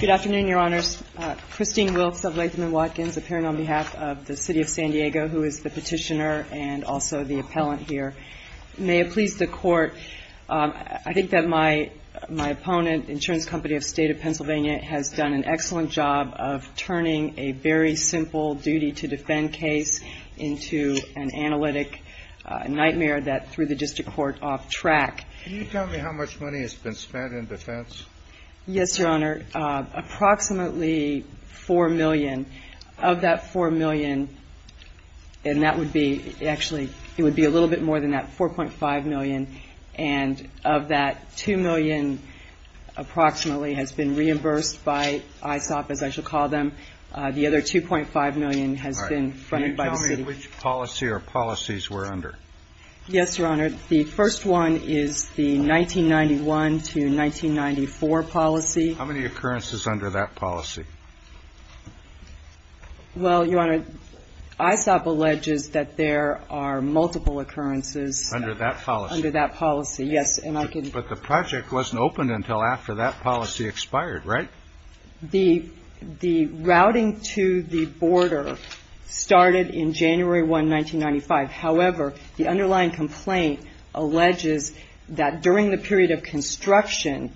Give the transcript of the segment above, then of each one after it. Good afternoon, Your Honors. Christine Wilkes of Latham & Watkins, appearing on behalf of the City of San Diego, who is the petitioner and also the appellant here. May it please the Court, I think that my opponent, Insurance Company of State of Pennsylvania, has done an excellent job of turning a very simple duty-to-defend case into an analytic nightmare that threw the district court off track. Can you tell me how much money has been spent in defense? Yes, Your Honor. Approximately $4 million. Of that $4 million, and that would be, actually, it would be a little bit more than that, $4.5 million. And of that, $2 million approximately has been reimbursed by ISOP, as I shall call them. The other $2.5 million has been funded by the city. Can you tell me which policy or policies we're under? Yes, Your Honor. The first one is the 1991 to 1994 policy. How many occurrences under that policy? Well, Your Honor, ISOP alleges that there are multiple occurrences under that policy. Under that policy. Under that policy, yes. And I can ---- But the project wasn't opened until after that policy expired, right? The routing to the border started in January 1, 1995. However, the underlying complaint alleges that during the period of construction,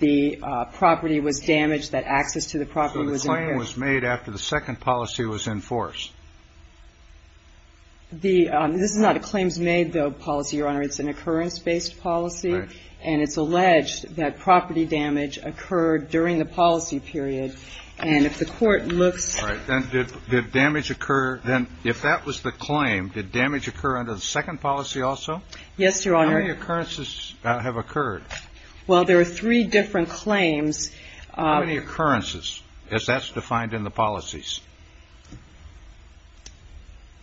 the property was damaged, that access to the property was impaired. So the claim was made after the second policy was enforced. This is not a claims-made policy, Your Honor. It's an occurrence-based policy. Right. And it's alleged that property damage occurred during the policy period. And if the Court looks ---- All right. Then did damage occur ---- Then if that was the claim, did damage occur under the second policy also? Yes, Your Honor. How many occurrences have occurred? Well, there are three different claims. How many occurrences, as that's defined in the policies?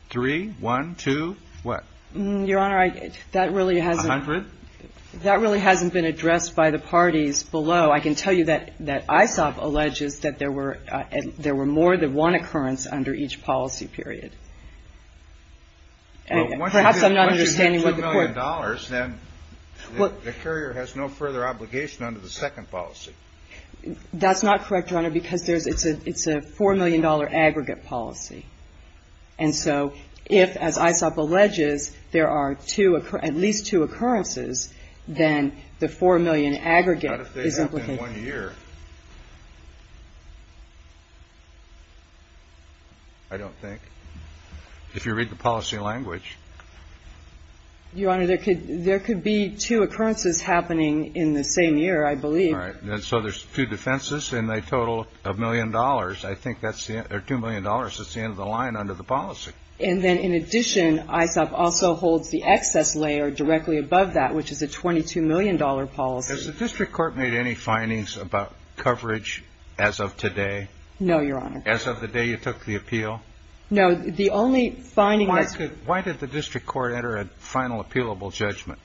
Three, one, two, what? Your Honor, that really has ---- A hundred? That really hasn't been addressed by the parties below. I can tell you that ISOP alleges that there were more than one occurrence under each policy period. Perhaps I'm not understanding what the Court ---- Well, once you get $2 million, then the carrier has no further obligation under the second policy. That's not correct, Your Honor, because there's ---- it's a $4 million aggregate policy. And so if, as ISOP alleges, there are two ---- at least two occurrences, then the $4 million aggregate is implicated. What if they don't in one year? I don't think. If you read the policy language. Your Honor, there could be two occurrences happening in the same year, I believe. All right. And so there's two defenses, and they total a million dollars. I think that's the ---- or $2 million, that's the end of the line under the policy. And then in addition, ISOP also holds the excess layer directly above that, which is a $22 million policy. Has the district court made any findings about coverage as of today? No, Your Honor. As of the day you took the appeal? No. The only finding that's ---- Why did the district court enter a final appealable judgment?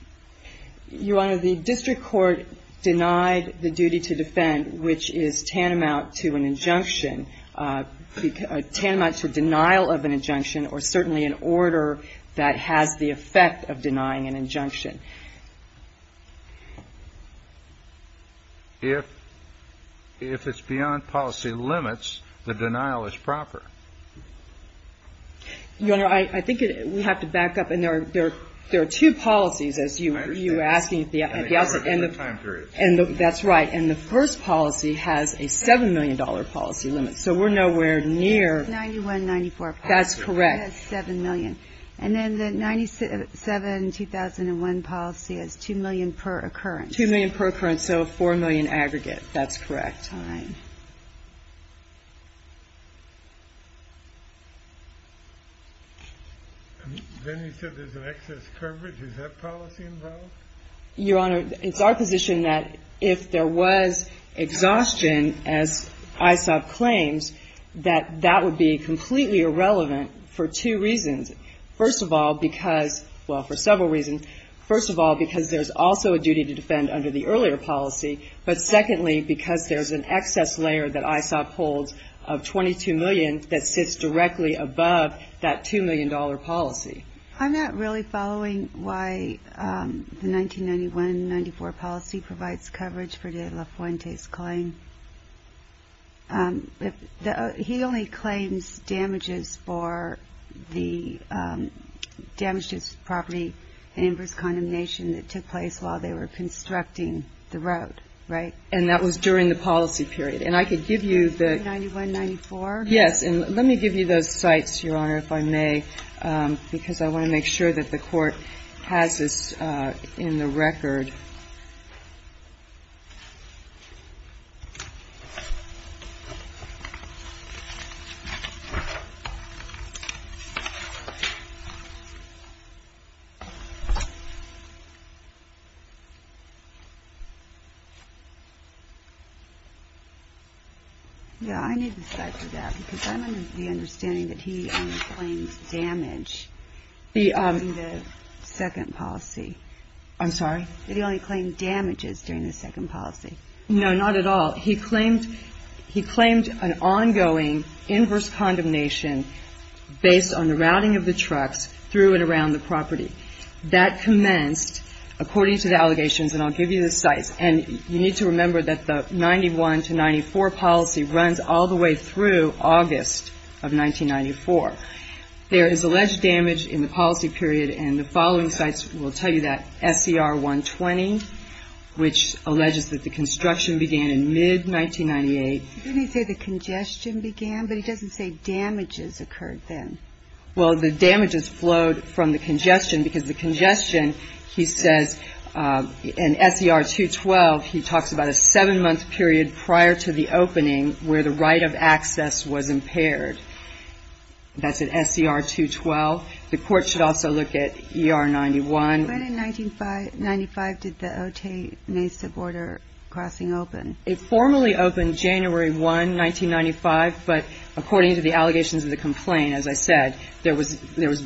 Your Honor, the district court denied the duty to defend, which is tantamount to an injunction, tantamount to denial of an injunction or certainly an order that has the effect of denying an injunction. If it's beyond policy limits, the denial is proper. Your Honor, I think we have to back up. And there are two policies, as you were asking at the outset. And that's right. And the first policy has a $7 million policy limit. So we're nowhere near ---- 91-94 policy. That's correct. It has $7 million. And then the 97-2001 policy has $2 million per occurrence. $2 million per occurrence. So a $4 million aggregate. That's correct. And then you said there's an excess coverage. Is that policy involved? Your Honor, it's our position that if there was exhaustion, as ISOP claims, that that would be completely irrelevant for two reasons. First of all, because ---- well, for several reasons. First of all, because there's also a duty to defend under the earlier policy. But secondly, because there's an excess layer that ISOP holds of $22 million that sits directly above that $2 million policy. I'm not really following why the 1991-94 policy provides coverage for De La Fuente's claim. He only claims damages for the damage to his property and inverse condemnation that took place while they were constructing the road, right? And that was during the policy period. And I could give you the ---- 91-94? Yes. And let me give you those sites, Your Honor, if I may, because I want to make sure that the Court has this in the record. Yeah, I need the site for that, because I'm under the understanding that he only claims damage in the second policy. I'm sorry? That he only claimed damages during the second policy. No, not at all. He claimed an ongoing inverse condemnation based on the routing of the trucks through and around the property. That commenced, according to the allegations, and I'll give you the sites. And you need to remember that the 91-94 policy runs all the way through August of 1994. There is alleged damage in the policy period, and the following sites will tell you that. SCR 120, which alleges that the construction began in mid-1998. Didn't he say the congestion began? But he doesn't say damages occurred then. Well, the damages flowed from the congestion, because the congestion, he says, in SCR 212, he talks about a seven-month period prior to the opening where the right of access was impaired. That's at SCR 212. The Court should also look at ER 91. When in 1995 did the Otay-Mesa border crossing open? It formally opened January 1, 1995. But according to the allegations of the complaint, as I said, there was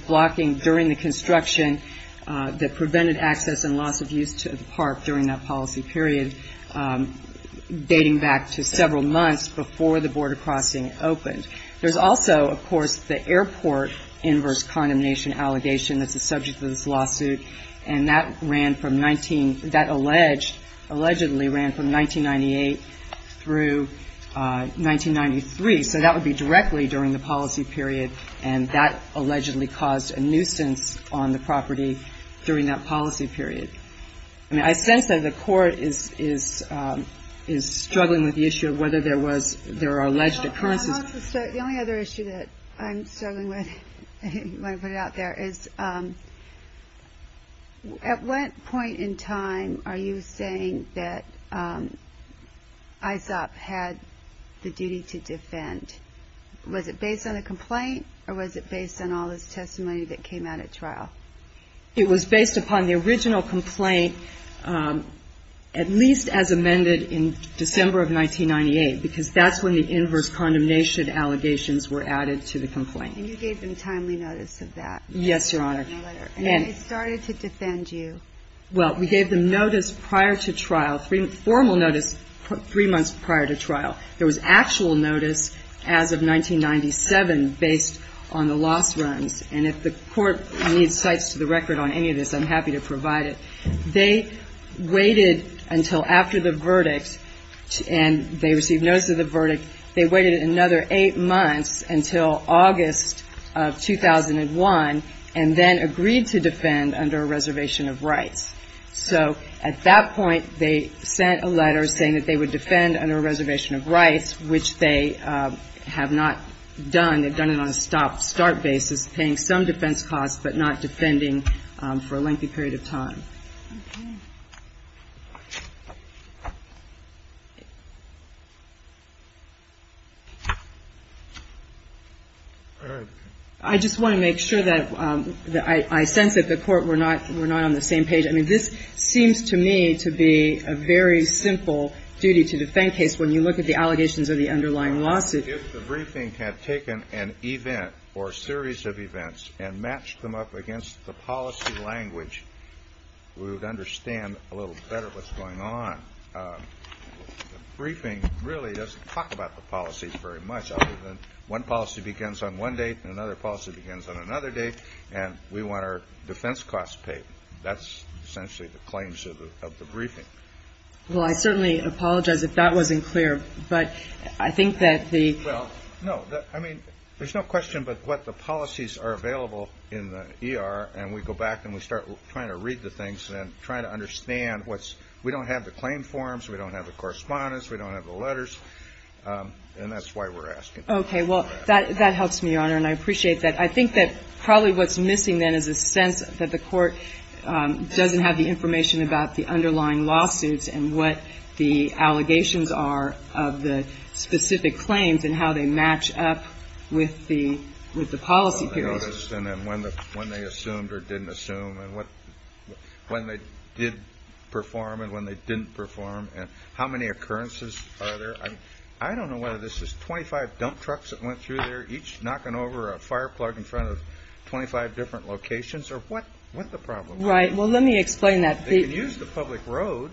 blocking during the construction that prevented access and loss of use to the park during that policy period, dating back to several months before the border crossing opened. There's also, of course, the airport inverse condemnation allegation that's the subject of this lawsuit, and that ran from 19 — that alleged — allegedly ran from 1998 through 1993. So that would be directly during the policy period, and that allegedly caused a nuisance on the property during that policy period. I mean, I sense that the Court is struggling with the issue of whether there was — there are alleged occurrences. The only other issue that I'm struggling with when I put it out there is, at what point in time are you saying that ISOP had the duty to defend? Was it based on the complaint, or was it based on all this testimony that came out at trial? It was based upon the original complaint, at least as amended in December of 1998, because that's when the inverse condemnation allegations were added to the complaint. And you gave them timely notice of that? Yes, Your Honor. And it started to defend you. Well, we gave them notice prior to trial, formal notice three months prior to trial. There was actual notice as of 1997 based on the loss runs, and if the Court needs cites to the record on any of this, I'm happy to provide it. They waited until after the verdict, and they received notice of the verdict. They waited another eight months until August of 2001, and then agreed to defend under a reservation of rights. So at that point, they sent a letter saying that they would defend under a reservation of rights, which they have not done. They've done it on a stop-start basis, paying some defense costs but not defending for a lengthy period of time. All right. I just want to make sure that I sense that the Court, we're not on the same page. I mean, this seems to me to be a very simple duty to defend case when you look at the allegations of the underlying lawsuit. If the briefing had taken an event or a series of events and matched them up against the policy language, we would understand a little better what's going on. The briefing really doesn't talk about the policy very much other than one policy begins on one date and another policy begins on another date, and we want our defense costs paid. That's essentially the claims of the briefing. Well, I certainly apologize if that wasn't clear, but I think that the ‑‑ Well, no. I mean, there's no question but what the policies are available in the ER, and we go back and we start trying to read the things and trying to understand what's ‑‑ we don't have the claim forms, we don't have the correspondence, we don't have the letters, and that's why we're asking. Okay. Well, that helps me, Your Honor, and I appreciate that. I think that probably what's missing then is a sense that the Court doesn't have the information about the underlying lawsuits and what the allegations are of the specific claims and how they match up with the policy period. And when they assumed or didn't assume, and when they did perform and when they didn't perform, and how many occurrences are there? I don't know whether this is 25 dump trucks that went through there, each knocking over a fire plug in front of 25 different locations, or what the problem is. Right. Well, let me explain that. They can use the public road.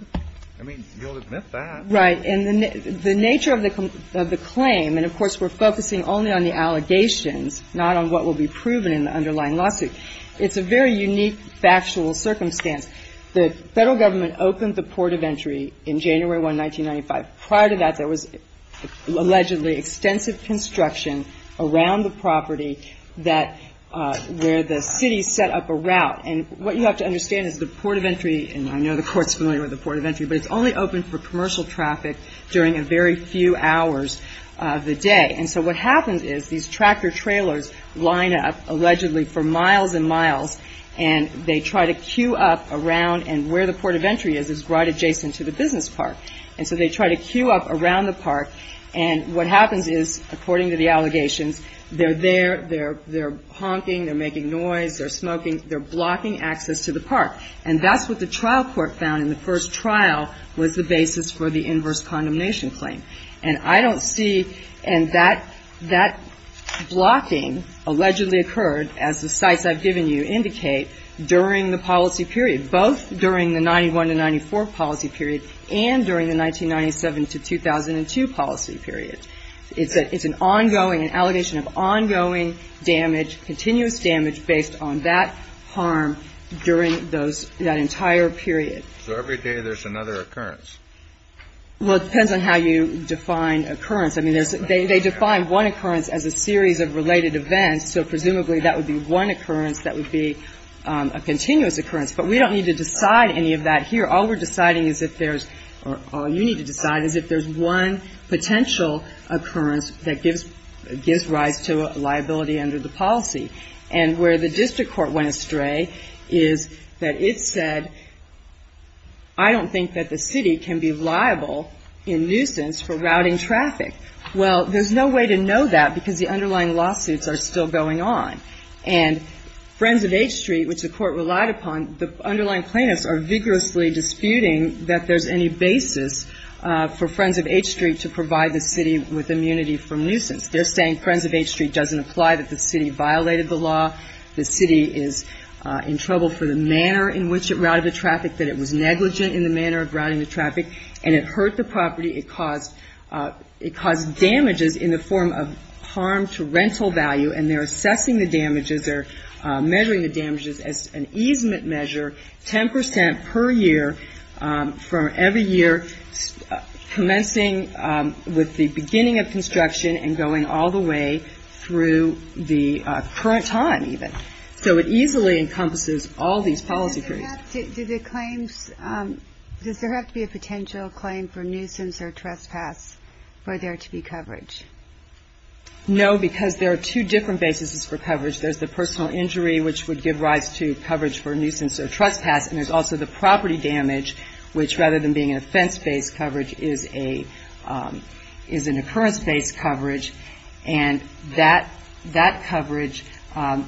I mean, you'll admit that. Right. And the nature of the claim, and, of course, we're focusing only on the allegations, not on what will be proven in the underlying lawsuit. It's a very unique factual circumstance. The Federal Government opened the port of entry in January 1, 1995. Prior to that, there was allegedly extensive construction around the property that ‑‑ where the city set up a route. And what you have to understand is the port of entry, and I know the Court's familiar with the port of entry, but it's only open for commercial traffic during a very few hours of the day. And so what happens is these tractor trailers line up allegedly for miles and miles, and they try to queue up around, and where the port of entry is, is right adjacent to the business park. And so they try to queue up around the park, and what happens is, according to the allegations, they're there, they're honking, they're making noise, they're smoking, they're blocking access to the park. And that's what the trial court found in the first trial was the basis for the inverse condemnation claim. And I don't see ‑‑ and that blocking allegedly occurred, as the sites I've given you indicate, during the policy period, both during the 91 to 94 policy period and during the 1997 to 2002 policy period. It's an ongoing, an allegation of ongoing damage, continuous damage, based on that harm during those ‑‑ that entire period. So every day there's another occurrence? Well, it depends on how you define occurrence. I mean, they define one occurrence as a series of related events, so presumably that would be one occurrence that would be a continuous occurrence. But we don't need to decide any of that here. All we're deciding is if there's ‑‑ or all you need to decide is if there's one potential occurrence that gives rise to a liability under the policy. And where the district court went astray is that it said, I don't think that the city can be liable in nuisance for routing traffic. Well, there's no way to know that because the underlying lawsuits are still going on. And Friends of H Street, which the court relied upon, the underlying plaintiffs are vigorously disputing that there's any basis for Friends of H Street to provide the city with immunity from nuisance. They're saying Friends of H Street doesn't apply, that the city violated the law, the city is in trouble for the manner in which it routed the traffic, that it was negligent in the manner of routing the traffic, and it hurt the property. It caused damages in the form of harm to rental value, and they're assessing the damages or measuring the damages as an easement measure, 10% per year for every year commencing with the beginning of construction and going all the way through the current time, even. So it easily encompasses all these policy periods. Does there have to be a potential claim for nuisance or trespass for there to be coverage? No, because there are two different bases for coverage. There's the personal injury, which would give rise to coverage for nuisance or trespass, and there's also the property damage, which rather than being an offense-based coverage, is an occurrence-based coverage. And that coverage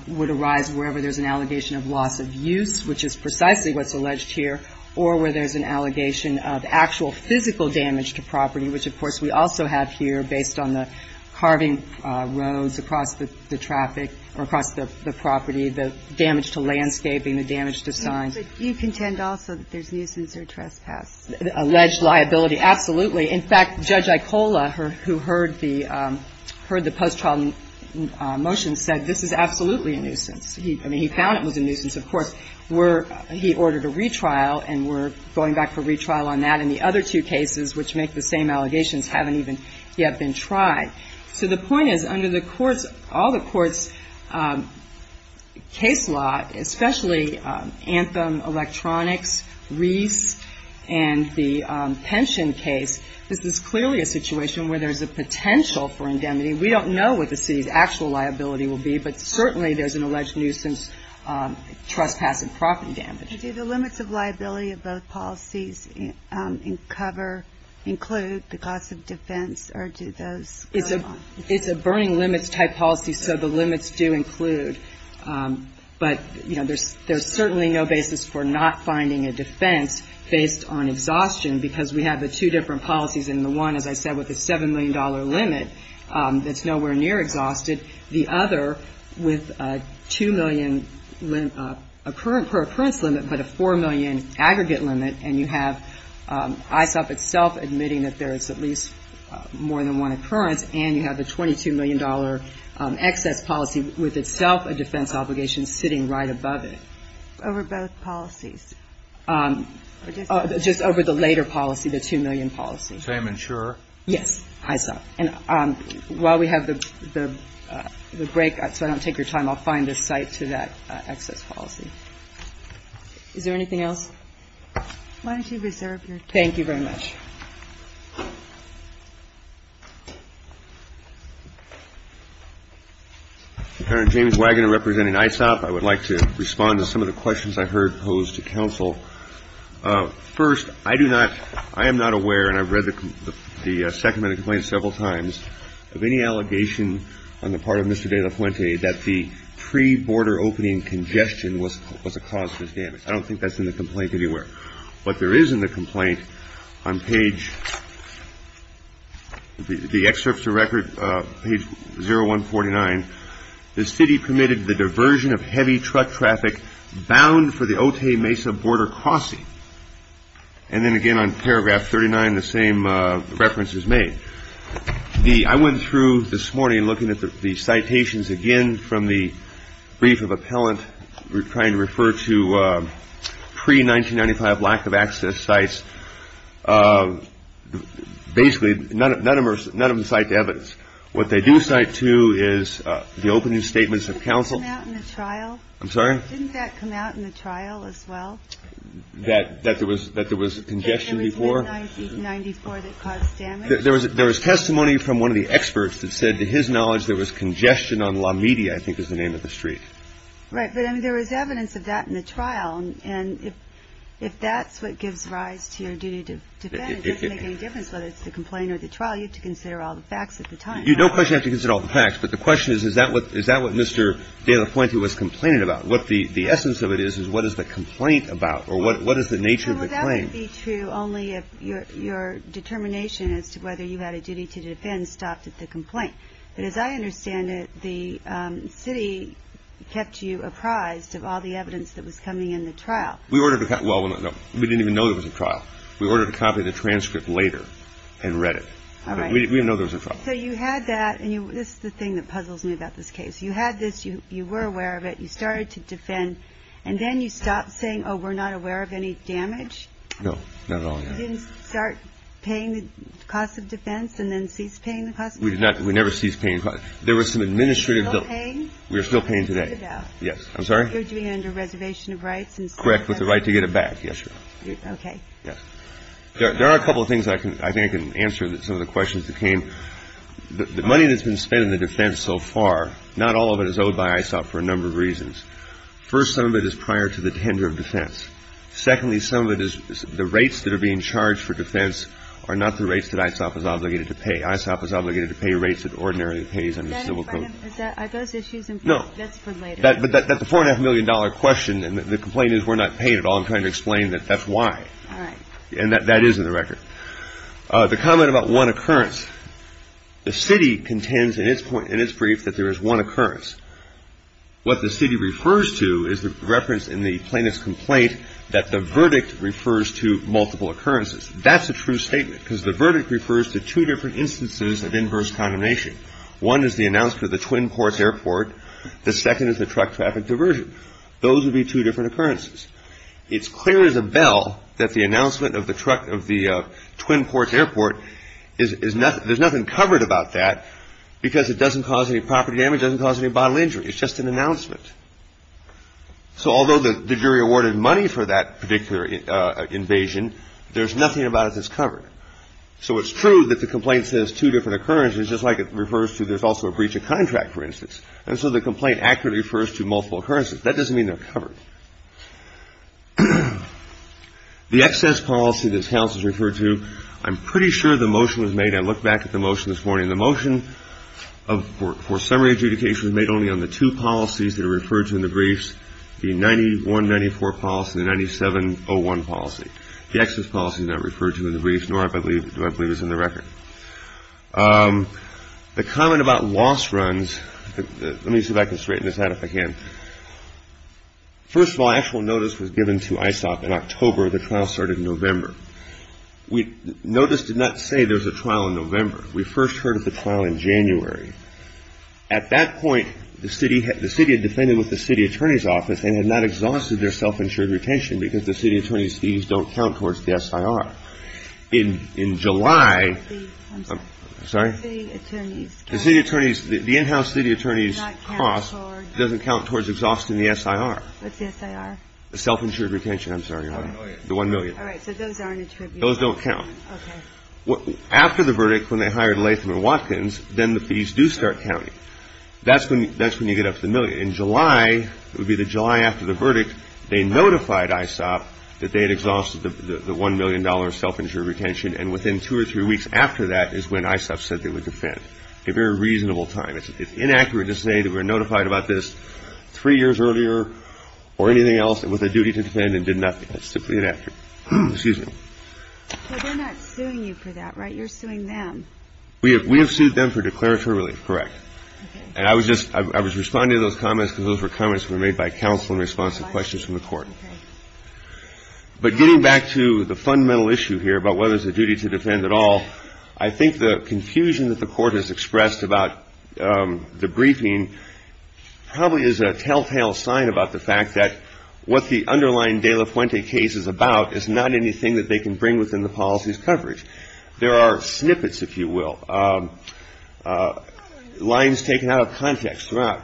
would arise wherever there's an allegation of loss of use, which is precisely what's alleged here, or where there's an allegation of actual physical damage to property, which, of course, we also have here based on the carving roads across the traffic or across the property, the damage to landscaping, the damage to signs. But you contend also that there's nuisance or trespass. Alleged liability, absolutely. In fact, Judge Icola, who heard the post-trial motion, said this is absolutely a nuisance. I mean, he found it was a nuisance, of course. He ordered a retrial, and we're going back for retrial on that. And the other two cases, which make the same allegations, haven't even yet been tried. So the point is, under the courts, all the courts' case law, especially Anthem, Electronics, Reese, and the pension case, this is clearly a situation where there's a potential for indemnity. We don't know what the city's actual liability will be, but certainly there's an alleged nuisance, trespass, and property damage. Do the limits of liability of both policies cover, include the cost of defense, or do those go along? It's a burning limits type policy, so the limits do include. But, you know, there's certainly no basis for not finding a defense based on exhaustion because we have the two different policies, and the one, as I said, with a $7 million limit, that's nowhere near exhausted. The other with a $2 million per occurrence limit, but a $4 million aggregate limit, and you have ISOP itself admitting that there is at least more than one occurrence, and you have the $22 million excess policy with itself a defense obligation sitting right above it. Over both policies? Just over the later policy, the $2 million policy. Same insurer? Yes, ISOP. And while we have the break, so I don't take your time, I'll find a site to that excess policy. Is there anything else? Why don't you reserve your time? Thank you very much. James Waggoner, representing ISOP. I would like to respond to some of the questions I heard posed to counsel. First, I do not, I am not aware, and I've read the Sacramento complaint several times, of any allegation on the part of Mr. De La Fuente that the pre-border opening congestion was a cause for his damage. I don't think that's in the complaint anywhere. What there is in the complaint on page, the excerpts of record, page 0149, the city permitted the diversion of heavy truck traffic bound for the Otay Mesa border crossing. And then again on paragraph 39, the same reference is made. I went through this morning looking at the citations again from the brief of appellant, trying to refer to pre-1995 lack of access sites. Basically, none of them cite evidence. What they do cite, too, is the opening statements of counsel. Didn't that come out in the trial? I'm sorry? Didn't that come out in the trial as well? That there was congestion before? It was 1994 that caused damage. There was testimony from one of the experts that said, to his knowledge, there was congestion on La Media, I think is the name of the street. Right. But I mean, there was evidence of that in the trial. And if that's what gives rise to your duty to defend, it doesn't make any difference whether it's the complaint or the trial. You don't necessarily have to consider all the facts. But the question is, is that what Mr. De La Puente was complaining about? What the essence of it is, is what is the complaint about? Or what is the nature of the claim? Well, that would be true only if your determination as to whether you had a duty to defend stopped at the complaint. But as I understand it, the city kept you apprised of all the evidence that was coming in the trial. Well, we didn't even know it was a trial. We ordered a copy of the transcript later and read it. All right. We didn't know it was a trial. So you had that. And this is the thing that puzzles me about this case. You had this. You were aware of it. You started to defend. And then you stopped saying, oh, we're not aware of any damage? No. Not at all, no. You didn't start paying the cost of defense and then cease paying the cost of defense? We never ceased paying the cost. There was some administrative bill. Still paying? We're still paying today. You're doing it under reservation of rights? Correct, with the right to get it back, yes, Your Honor. Okay. Yes. There are a couple of things I think I can answer some of the questions that came. The money that's been spent on the defense so far, not all of it is owed by ISOP for a number of reasons. First, some of it is prior to the tender of defense. Secondly, some of it is the rates that are being charged for defense are not the rates that ISOP is obligated to pay. ISOP is obligated to pay rates that ordinarily pays under civil code. Is that a part of those issues? No. That's for later. But the $4.5 million question and the complaint is we're not paid at all. I'm trying to explain that that's why. All right. And that is in the record. The comment about one occurrence, the city contends in its brief that there is one occurrence. What the city refers to is the reference in the plaintiff's complaint that the verdict refers to multiple occurrences. That's a true statement because the verdict refers to two different instances of inverse condemnation. One is the announcement of the Twin Ports Airport. The second is the truck traffic diversion. Those would be two different occurrences. It's clear as a bell that the announcement of the Twin Ports Airport, there's nothing covered about that because it doesn't cause any property damage, doesn't cause any bodily injury. It's just an announcement. So although the jury awarded money for that particular invasion, there's nothing about it that's covered. So it's true that the complaint says two different occurrences just like it refers to there's also a breach of contract, for instance. And so the complaint accurately refers to multiple occurrences. That doesn't mean they're covered. The excess policy this House has referred to, I'm pretty sure the motion was made. I looked back at the motion this morning. The motion for summary adjudication was made only on the two policies that are referred to in the briefs, the 9194 policy and the 9701 policy. The excess policy is not referred to in the briefs, nor do I believe is in the record. The comment about loss runs, let me see if I can straighten this out if I can. First of all, actual notice was given to ISOP in October. The trial started in November. Notice did not say there was a trial in November. We first heard of the trial in January. At that point, the city had defended with the city attorney's office and had not exhausted their self-insured retention because the city attorney's fees don't count towards the SIR. In July, the city attorney's, the in-house city attorney's cost doesn't count towards exhausting the SIR. What's the SIR? The self-insured retention, I'm sorry. The one million. All right, so those aren't attributed. Those don't count. Okay. After the verdict, when they hired Latham and Watkins, then the fees do start counting. That's when you get up to the million. In July, it would be the July after the verdict, they notified ISOP that they had exhausted the $1 million self-insured retention, and within two or three weeks after that is when ISOP said they would defend. A very reasonable time. It's inaccurate to say that we were notified about this three years earlier or anything else with a duty to defend and did nothing. That's simply inaccurate. Excuse me. Well, they're not suing you for that, right? You're suing them. We have sued them for declaratory relief, correct. And I was just responding to those comments because those were comments made by counsel in response to questions from the court. But getting back to the fundamental issue here about whether it's a duty to defend at all, I think the confusion that the court has expressed about the briefing probably is a telltale sign about the fact that what the underlying De La Fuente case is about is not anything that they can bring within the policy's coverage. There are snippets, if you will. Lines taken out of context throughout.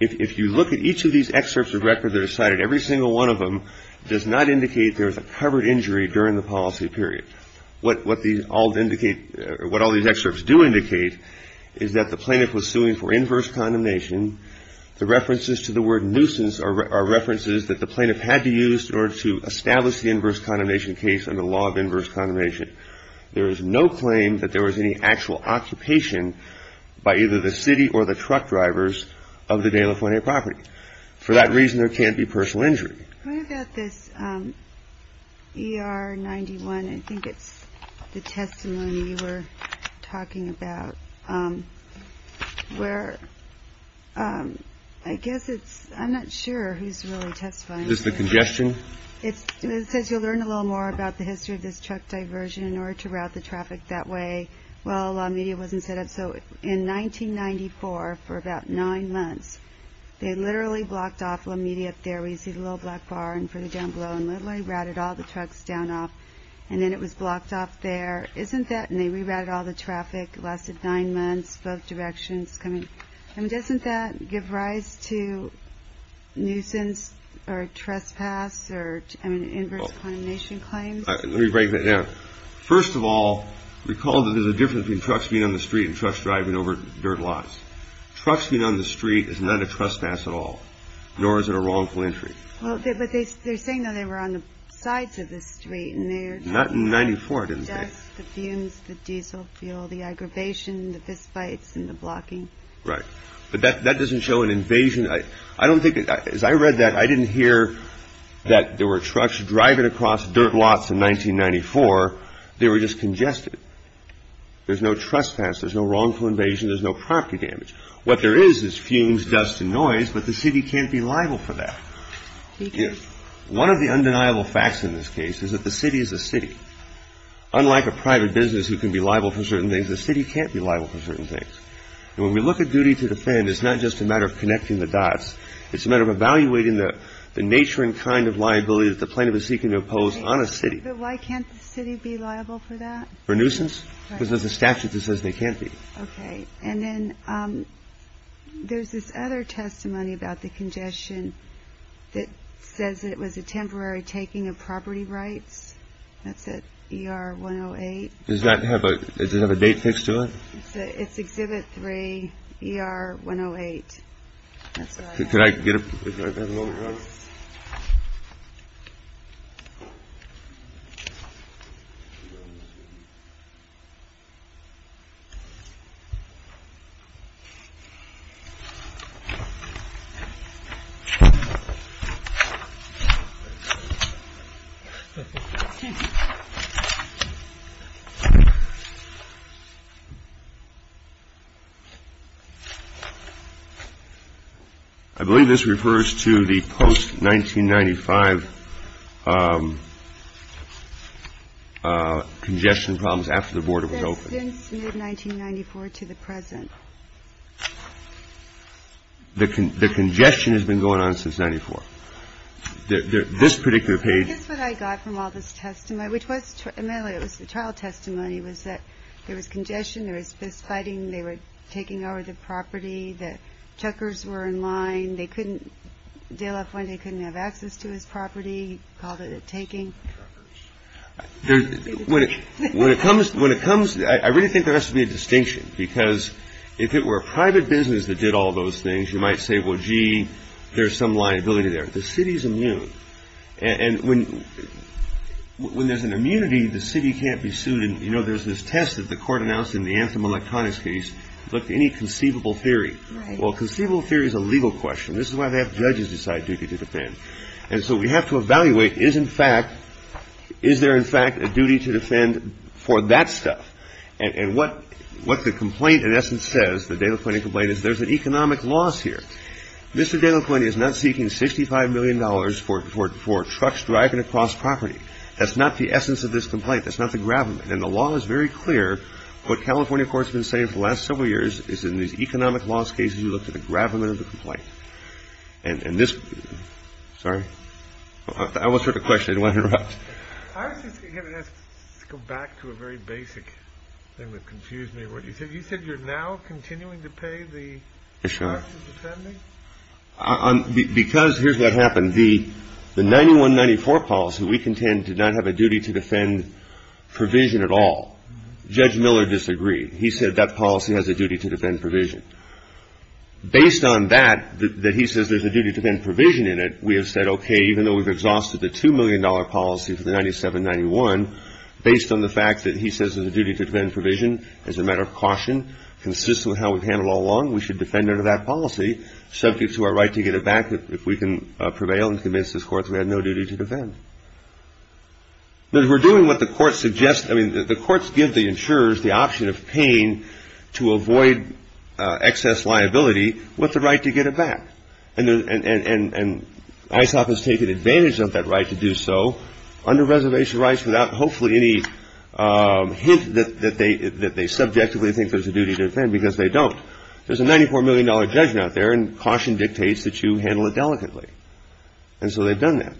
If you look at each of these excerpts of record that are cited, every single one of them does not indicate there was a covered injury during the policy period. What all these excerpts do indicate is that the plaintiff was suing for inverse condemnation. The references to the word nuisance are references that the plaintiff had to use in order to establish the inverse condemnation case under the law of inverse condemnation. There is no claim that there was any actual occupation by either the city or the truck drivers of the De La Fuente property. For that reason, there can't be personal injury. What about this ER 91? I think it's the testimony you were talking about where I guess it's I'm not sure who's really testifying. Is this the congestion? It says you'll learn a little more about the history of this truck diversion in order to route the traffic that way. Well, a lot of media wasn't set up. So in 1994, for about nine months, they literally blocked off the media up there. We see the little black bar and for the down below and literally routed all the trucks down off. And then it was blocked off there, isn't that? And they rerouted all the traffic, lasted nine months, both directions coming. And doesn't that give rise to nuisance or trespass or an inverse condemnation claim? Let me break that down. First of all, recall that there's a difference between trucks being on the street and trucks driving over dirt lots. Trucks being on the street is not a trespass at all, nor is it a wrongful entry. But they're saying that they were on the sides of the street. Not in 94, didn't they? Right. But that doesn't show an invasion. I don't think as I read that, I didn't hear that there were trucks driving across dirt lots in 1994. They were just congested. There's no trespass. There's no wrongful invasion. There's no property damage. What there is, is fumes, dust and noise. But the city can't be liable for that. One of the undeniable facts in this case is that the city is a city. Unlike a private business who can be liable for certain things, the city can't be liable for certain things. And when we look at duty to defend, it's not just a matter of connecting the dots. It's a matter of evaluating the nature and kind of liability that the plaintiff is seeking to impose on a city. But why can't the city be liable for that? For nuisance? Because there's a statute that says they can't be. OK. And then there's this other testimony about the congestion that says it was a temporary taking of property rights. That's it. You are one of eight. Does that have a date fixed to it? It's exhibit three. You are one of eight. Could I get a little. I believe this refers to the post 1995 congestion problems after the border was opened in 1994 to the present. The congestion has been going on since 94. This particular page is what I got from all this testimony, which was it was the trial testimony was that there was congestion. There is this fighting. They were taking over the property that checkers were in line. They couldn't deal up when they couldn't have access to his property. Called it a taking. When it comes when it comes. I really think there has to be a distinction because if it were a private business that did all those things, you might say, well, gee, there's some liability there. The city's immune. And when when there's an immunity, the city can't be sued. You know, there's this test that the court announced in the anthem electronics case. Look, any conceivable theory. Well, conceivable theory is a legal question. This is why they have judges decide duty to defend. And so we have to evaluate is, in fact, is there, in fact, a duty to defend for that stuff? And what what the complaint, in essence, says that they look like a blade is there's an economic loss here. Mr. Delacroix is not seeking sixty five million dollars for four trucks driving across property. That's not the essence of this complaint. That's not the gravamen. And the law is very clear. What California courts have been saying for the last several years is in these economic loss cases, you look at the gravamen of the complaint and this. Sorry, I was sort of question. I don't want to go back to a very basic thing that confused me. What you said, you said you're now continuing to pay the. I'm because here's what happened. The the ninety one ninety four policy we contend did not have a duty to defend provision at all. Judge Miller disagreed. He said that policy has a duty to defend provision based on that. That he says there's a duty to then provision in it. We have said, OK, even though we've exhausted the two million dollar policy for the ninety seven ninety one, based on the fact that he says there's a duty to defend provision as a matter of caution consistent with how we've handled all along. We should defend that policy subject to our right to get it back. If we can prevail and convince this court, we have no duty to defend. But we're doing what the court suggests. I mean, the courts give the insurers the option of paying to avoid excess liability. What's the right to get it back? And ISOC has taken advantage of that right to do so under reservation rights without hopefully any hint that they, that they subjectively think there's a duty to defend because they don't. There's a ninety four million dollar judgment out there and caution dictates that you handle it delicately. And so they've done that.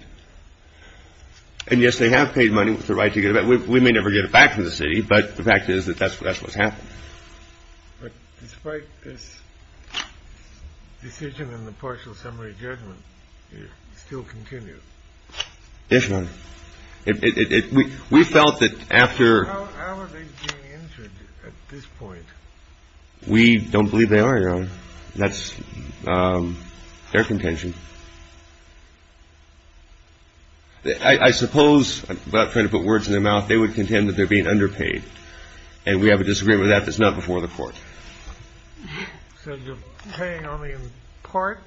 And yes, they have paid money with the right to get it. But we may never get it back from the city. But the fact is that that's that's what's happened. Despite this decision in the partial summary judgment, you still continue. Yes, Your Honor. We felt that after. How are they being injured at this point? We don't believe they are, Your Honor. That's their contention. I suppose, without trying to put words in their mouth, they would contend that they're being underpaid. And we have a disagreement with that. That's not before the court. So you're paying only in part?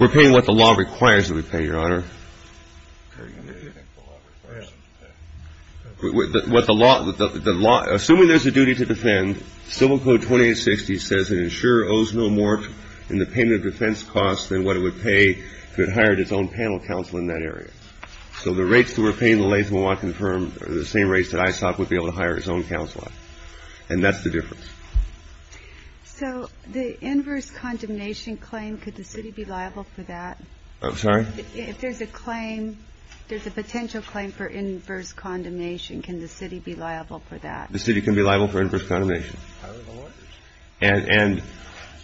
We're paying what the law requires that we pay, Your Honor. What the law, assuming there's a duty to defend, Civil Code 2860 says an insurer owes no more in the payment of defense costs than what it would pay if it hired its own panel counsel in that area. So the rates that we're paying, the latest we want confirmed, are the same rates that ISOC would be able to hire its own counsel on. And that's the difference. So the inverse condemnation claim, could the city be liable for that? I'm sorry? If there's a claim, there's a potential claim for inverse condemnation, can the city be liable for that? The city can be liable for inverse condemnation. And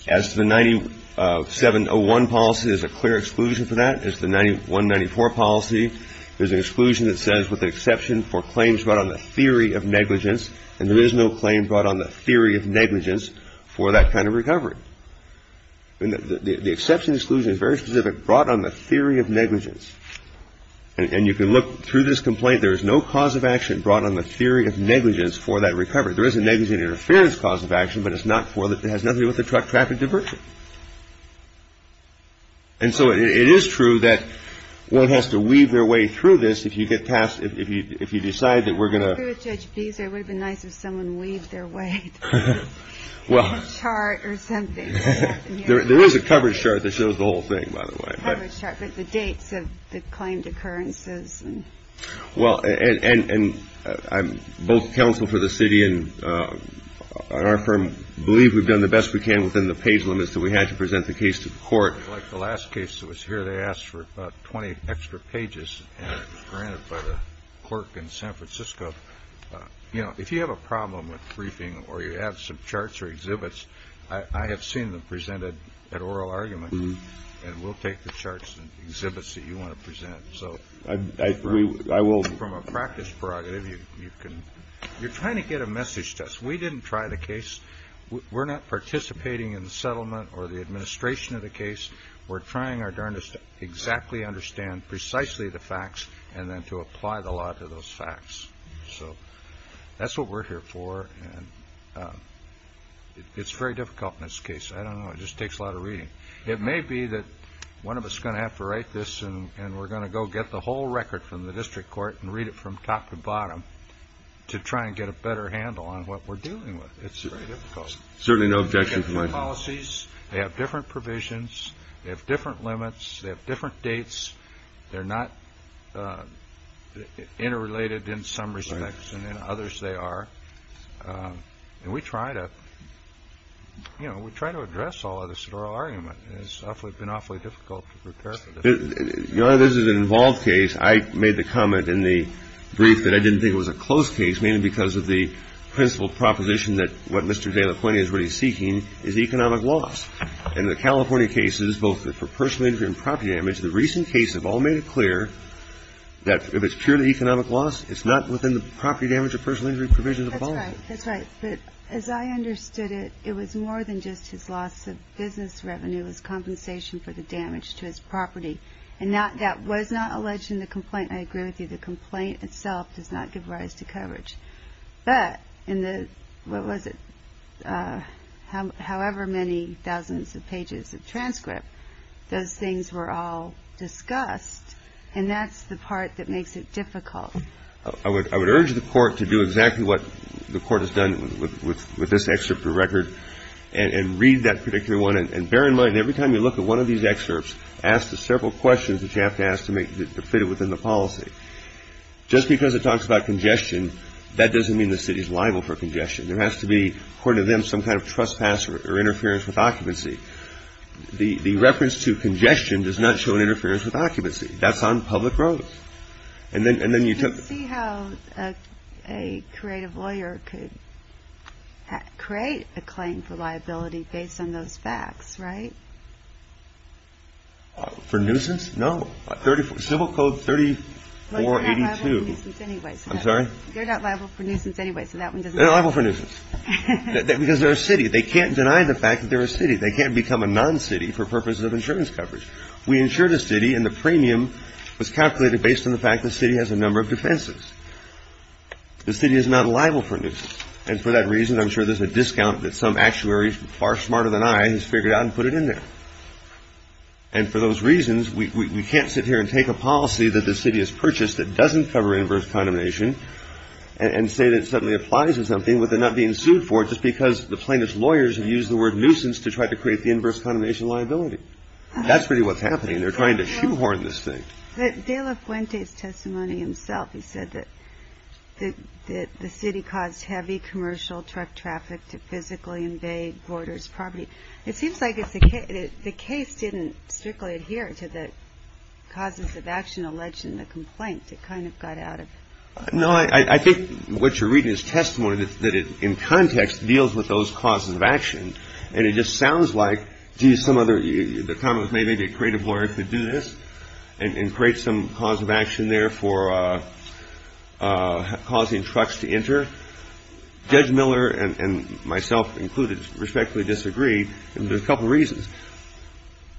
as to the 9701 policy, there's a clear exclusion for that. As to the 9194 policy, there's an exclusion that says, with the exception for claims brought on the theory of negligence, and there is no claim brought on the theory of negligence for that kind of recovery. The exception exclusion is very specific, brought on the theory of negligence. And you can look through this complaint. There is no cause of action brought on the theory of negligence for that recovery. There is a negligent interference cause of action, but it has nothing to do with the traffic diversion. And so it is true that one has to weave their way through this if you get past, if you decide that we're going to. I agree with Judge Beasley. It would have been nice if someone weaved their way through the chart or something. There is a coverage chart that shows the whole thing, by the way. But the dates of the claimed occurrences. Well, and both counsel for the city and our firm believe we've done the best we can within the page limits that we had to present the case to the court. Like the last case that was here, they asked for about 20 extra pages, and it was granted by the clerk in San Francisco. You know, if you have a problem with briefing or you have some charts or exhibits, I have seen them presented at oral arguments, and we'll take the charts and exhibits that you want to present. So I will. From a practice prerogative, you can. You're trying to get a message to us. We didn't try the case. We're not participating in the settlement or the administration of the case. We're trying our darndest to exactly understand precisely the facts and then to apply the law to those facts. So that's what we're here for. And it's very difficult in this case. I don't know. It just takes a lot of reading. It may be that one of us is going to have to write this, and we're going to go get the whole record from the district court and read it from top to bottom to try and get a better handle on what we're dealing with. It's very difficult. Certainly no objection. They have different policies. They have different provisions. They have different limits. They have different dates. They're not interrelated in some respects, and in others they are. And we try to address all of this at oral argument. It's been awfully difficult to prepare for this. Your Honor, this is an involved case. I made the comment in the brief that I didn't think it was a closed case, mainly because of the principle proposition that what Mr. De La Pena is really seeking is economic loss. In the California cases, both for personal injury and property damage, the recent cases have all made it clear that if it's purely economic loss, it's not within the property damage or personal injury provision of the policy. That's right. But as I understood it, it was more than just his loss of business revenue. It was compensation for the damage to his property. And that was not alleged in the complaint. I agree with you. The complaint itself does not give rise to coverage. But in the, what was it, however many thousands of pages of transcript, those things were all discussed, and that's the part that makes it difficult. I would urge the court to do exactly what the court has done with this excerpt of the record and read that particular one. And bear in mind, every time you look at one of these excerpts, ask the several questions that you have to ask to fit it within the policy. Just because it talks about congestion, that doesn't mean the city is liable for congestion. There has to be, according to them, some kind of trespass or interference with occupancy. The reference to congestion does not show an interference with occupancy. That's on public roads. And then you took. See how a creative lawyer could create a claim for liability based on those facts, right? For nuisance? Civil Code 3482. They're not liable for nuisance anyway. I'm sorry? They're not liable for nuisance anyway. They're liable for nuisance. Because they're a city. They can't deny the fact that they're a city. They can't become a non-city for purposes of insurance coverage. We insured a city, and the premium was calculated based on the fact the city has a number of defenses. The city is not liable for nuisance. And for that reason, I'm sure there's a discount that some actuary far smarter than I has figured out and put it in there. And for those reasons, we can't sit here and take a policy that the city has purchased that doesn't cover inverse condemnation and say that it suddenly applies to something with it not being sued for it It's because the plaintiff's lawyers have used the word nuisance to try to create the inverse condemnation liability. That's really what's happening. They're trying to shoehorn this thing. De La Fuente's testimony himself, he said that the city caused heavy commercial truck traffic to physically invade voters' property. It seems like the case didn't strictly adhere to the causes of action alleged in the complaint. It kind of got out of hand. No, I think what you're reading is testimony that it, in context, deals with those causes of action. And it just sounds like, gee, some other, the comment was maybe a creative lawyer could do this and create some cause of action there for causing trucks to enter. Judge Miller and myself included respectfully disagree. There's a couple reasons.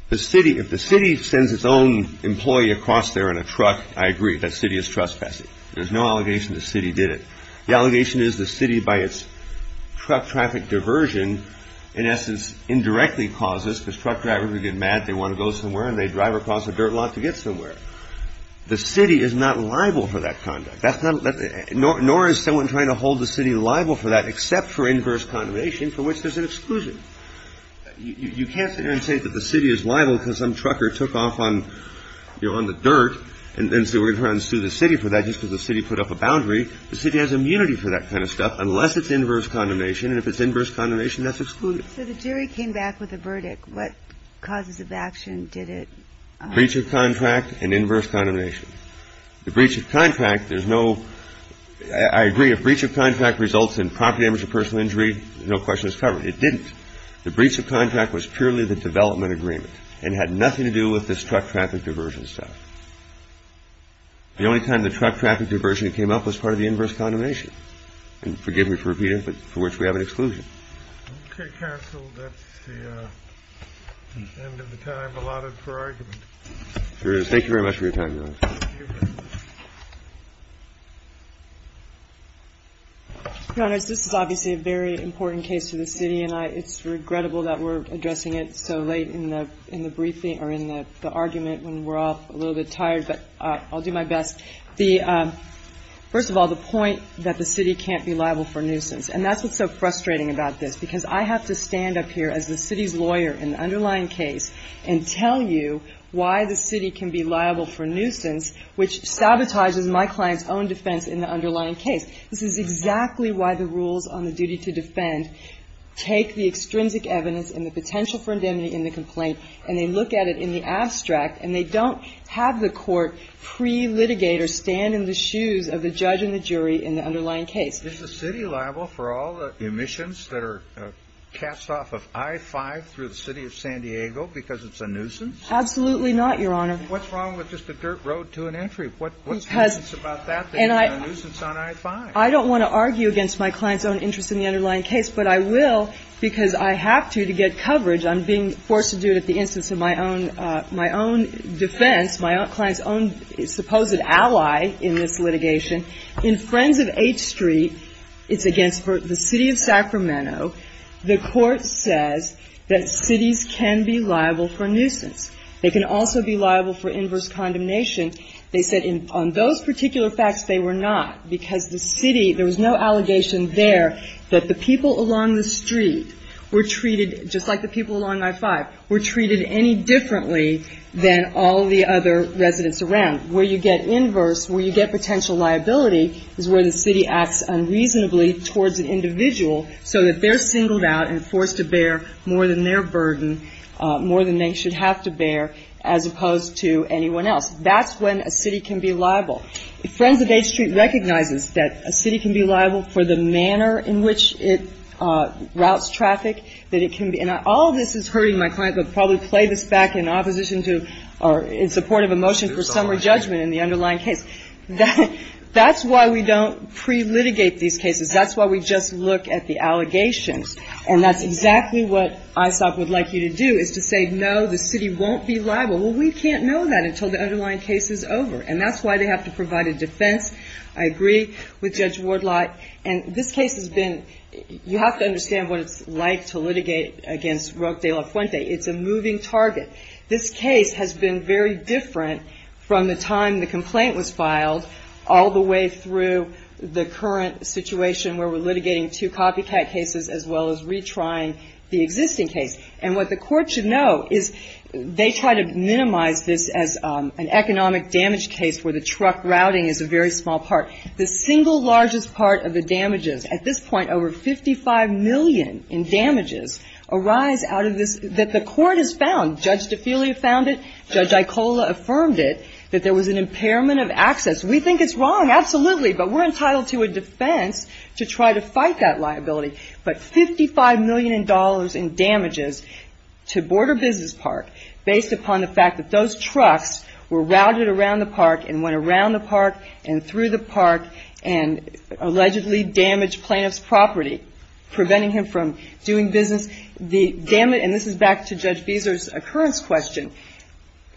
The city, if the city sends its own employee across there in a truck, I agree, that city is trespassing. There's no allegation the city did it. The allegation is the city, by its truck traffic diversion, in essence, indirectly causes, because truck drivers are getting mad, they want to go somewhere, and they drive across a dirt lot to get somewhere. The city is not liable for that conduct. Nor is someone trying to hold the city liable for that, except for inverse condemnation, for which there's an exclusion. You can't sit there and say that the city is liable because some trucker took off on the dirt and so we're going to try and sue the city for that just because the city put up a boundary. The city has immunity for that kind of stuff unless it's inverse condemnation. And if it's inverse condemnation, that's excluded. So the jury came back with a verdict. What causes of action did it? Breach of contract and inverse condemnation. The breach of contract, there's no, I agree, if breach of contract results in property damage or personal injury, there's no question it's covered. It didn't. The breach of contract was purely the development agreement and had nothing to do with this truck traffic diversion stuff. The only time the truck traffic diversion came up was part of the inverse condemnation. And forgive me for repeating it, but for which we have an exclusion. Okay, counsel, that's the end of the time allotted for argument. Thank you very much for your time, Your Honor. Thank you. Your Honor, this is obviously a very important case to the city, and it's regrettable that we're addressing it so late in the briefing or in the argument when we're all a little bit tired, but I'll do my best. First of all, the point that the city can't be liable for nuisance, and that's what's so frustrating about this, because I have to stand up here as the city's lawyer in the underlying case and tell you why the city can be liable for nuisance, which sabotages my client's own defense in the underlying case. This is exactly why the rules on the duty to defend take the extrinsic evidence and the potential for indemnity in the complaint, and they look at it in the abstract, and they don't have the court pre-litigate or stand in the shoes of the judge and the jury in the underlying case. Is the city liable for all the emissions that are cast off of I-5 through the city of San Diego because it's a nuisance? Absolutely not, Your Honor. What's wrong with just a dirt road to an entry? What's the nuisance about that that's not a nuisance on I-5? I don't want to argue against my client's own interest in the underlying case, but I will because I have to to get coverage. I'm being forced to do it at the instance of my own defense, my client's own supposed ally in this litigation. In Friends of H Street, it's against the city of Sacramento. The court says that cities can be liable for nuisance. They can also be liable for inverse condemnation. They said on those particular facts they were not because the city, there was no allegation there that the people along the street were treated just like the people along I-5 were treated any differently than all the other residents around. Where you get inverse, where you get potential liability is where the city acts unreasonably towards an individual so that they're singled out and forced to bear more than their burden, more than they should have to bear, as opposed to anyone else. That's when a city can be liable. Friends of H Street recognizes that a city can be liable for the manner in which it routes traffic, that it can be. And all of this is hurting my client, but probably play this back in opposition to or in support of a motion for summary judgment in the underlying case. That's why we don't pre-litigate these cases. That's why we just look at the allegations. And that's exactly what ISOP would like you to do is to say, no, the city won't be liable. Well, we can't know that until the underlying case is over. And that's why they have to provide a defense. I agree with Judge Wardlot. And this case has been, you have to understand what it's like to litigate against Roque de la Fuente. It's a moving target. This case has been very different from the time the complaint was filed all the way through the current situation where we're litigating two copycat cases as well as retrying the existing case. And what the court should know is they try to minimize this as an economic damage case where the truck routing is a very small part. The single largest part of the damages. At this point, over $55 million in damages arise out of this that the court has found. Judge DeFelia found it. Judge Aicola affirmed it, that there was an impairment of access. We think it's wrong. Absolutely. But we're entitled to a defense to try to fight that liability. But $55 million in damages to Border Business Park based upon the fact that those trucks were routed around the park and went around the park and allegedly damaged plaintiff's property, preventing him from doing business. The damage, and this is back to Judge Fieser's occurrence question,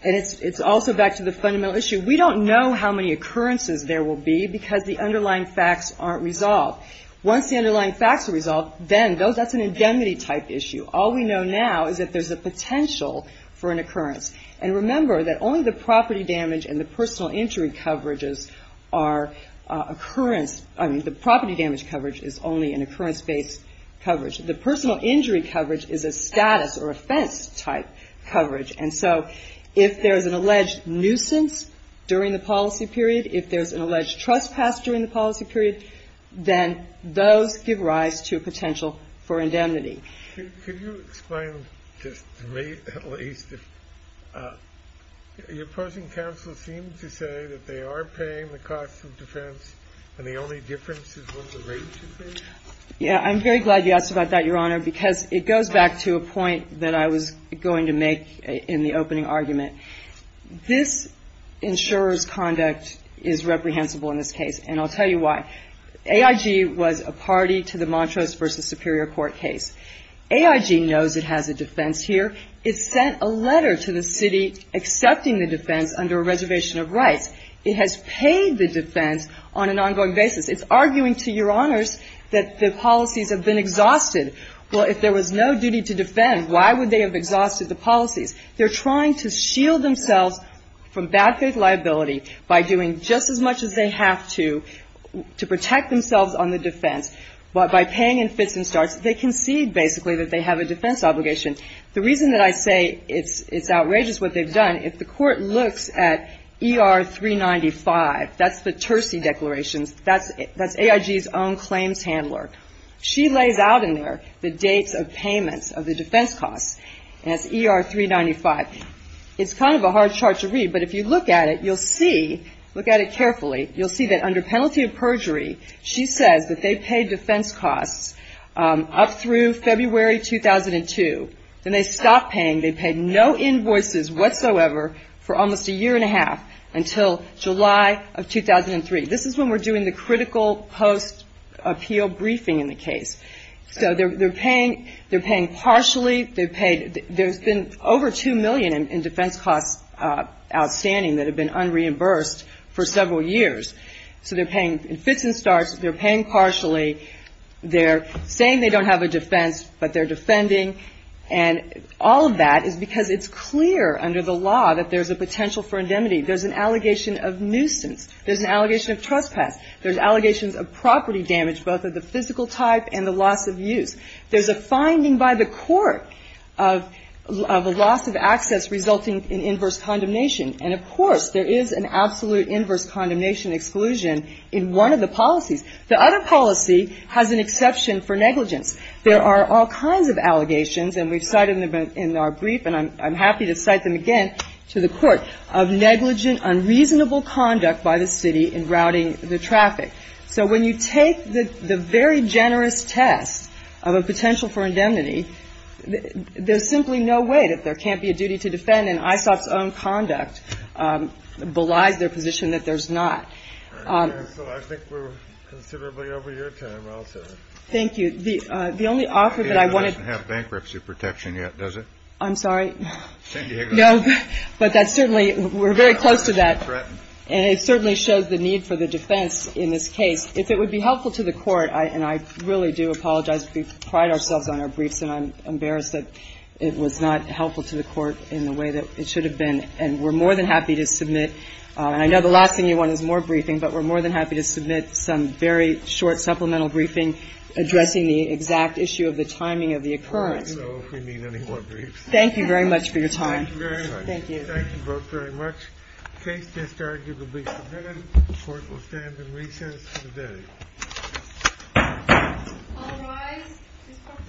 and it's also back to the fundamental issue. We don't know how many occurrences there will be because the underlying facts aren't resolved. Once the underlying facts are resolved, then that's an indemnity-type issue. All we know now is that there's a potential for an occurrence. And remember that only the property damage and the personal injury coverages are occurrence. I mean, the property damage coverage is only an occurrence-based coverage. The personal injury coverage is a status or offense-type coverage. And so if there's an alleged nuisance during the policy period, if there's an alleged trespass during the policy period, then those give rise to a potential for indemnity. Can you explain, just to me at least, if your opposing counsel seems to say that they are paying the cost of defense and the only difference is what the rate should be? Yeah. I'm very glad you asked about that, Your Honor, because it goes back to a point that I was going to make in the opening argument. This insurer's conduct is reprehensible in this case, and I'll tell you why. AIG was a party to the Montrose v. Superior Court case. AIG knows it has a defense here. It sent a letter to the city accepting the defense under a reservation of rights. It has paid the defense on an ongoing basis. It's arguing to Your Honors that the policies have been exhausted. Well, if there was no duty to defend, why would they have exhausted the policies? They're trying to shield themselves from bad faith liability by doing just as much as they have to to protect themselves on the defense. By paying in fits and starts, they concede, basically, that they have a defense obligation. The reason that I say it's outrageous what they've done, if the Court looks at ER 395, that's the Terci declarations. That's AIG's own claims handler. She lays out in there the dates of payments of the defense costs, and it's ER 395. It's kind of a hard chart to read, but if you look at it, you'll see, look at it carefully, you'll see that under penalty of perjury, she says that they paid defense costs up through February 2002. Then they stopped paying. They paid no invoices whatsoever for almost a year and a half until July of 2003. This is when we're doing the critical post-appeal briefing in the case. So they're paying partially. There's been over $2 million in defense costs outstanding that have been unreimbursed for several years. So they're paying in fits and starts. They're paying partially. They're saying they don't have a defense, but they're defending. And all of that is because it's clear under the law that there's a potential for indemnity. There's an allegation of nuisance. There's an allegation of trespass. There's allegations of property damage, both of the physical type and the loss of use. There's a finding by the Court of a loss of access resulting in inverse condemnation. And, of course, there is an absolute inverse condemnation exclusion in one of the policies. The other policy has an exception for negligence. There are all kinds of allegations, and we've cited them in our brief, and I'm happy to cite them again to the Court, of negligent, unreasonable conduct by the city in routing the traffic. So when you take the very generous test of a potential for indemnity, there's simply no way that there can't be a duty to defend, and ISOP's own conduct belies their position that there's not. So I think we're considerably over your time. Thank you. The only offer that I wanted to have bankruptcy protection yet, does it? I'm sorry. No, but that's certainly we're very close to that. And it certainly shows the need for the defense in this case. If it would be helpful to the Court, and I really do apologize, we pride ourselves on our briefs, and I'm embarrassed that it was not helpful to the Court in the way that it should have been. And we're more than happy to submit, and I know the last thing you want is more briefing, but we're more than happy to submit some very short supplemental briefing addressing the exact issue of the timing of the occurrence. All right. So if we need any more briefs. Thank you very much for your time. Thank you very much. Thank you. Thank you both very much. The case is arguably submitted. The Court will stand in recess until the day. All rise. This Court is in a second session.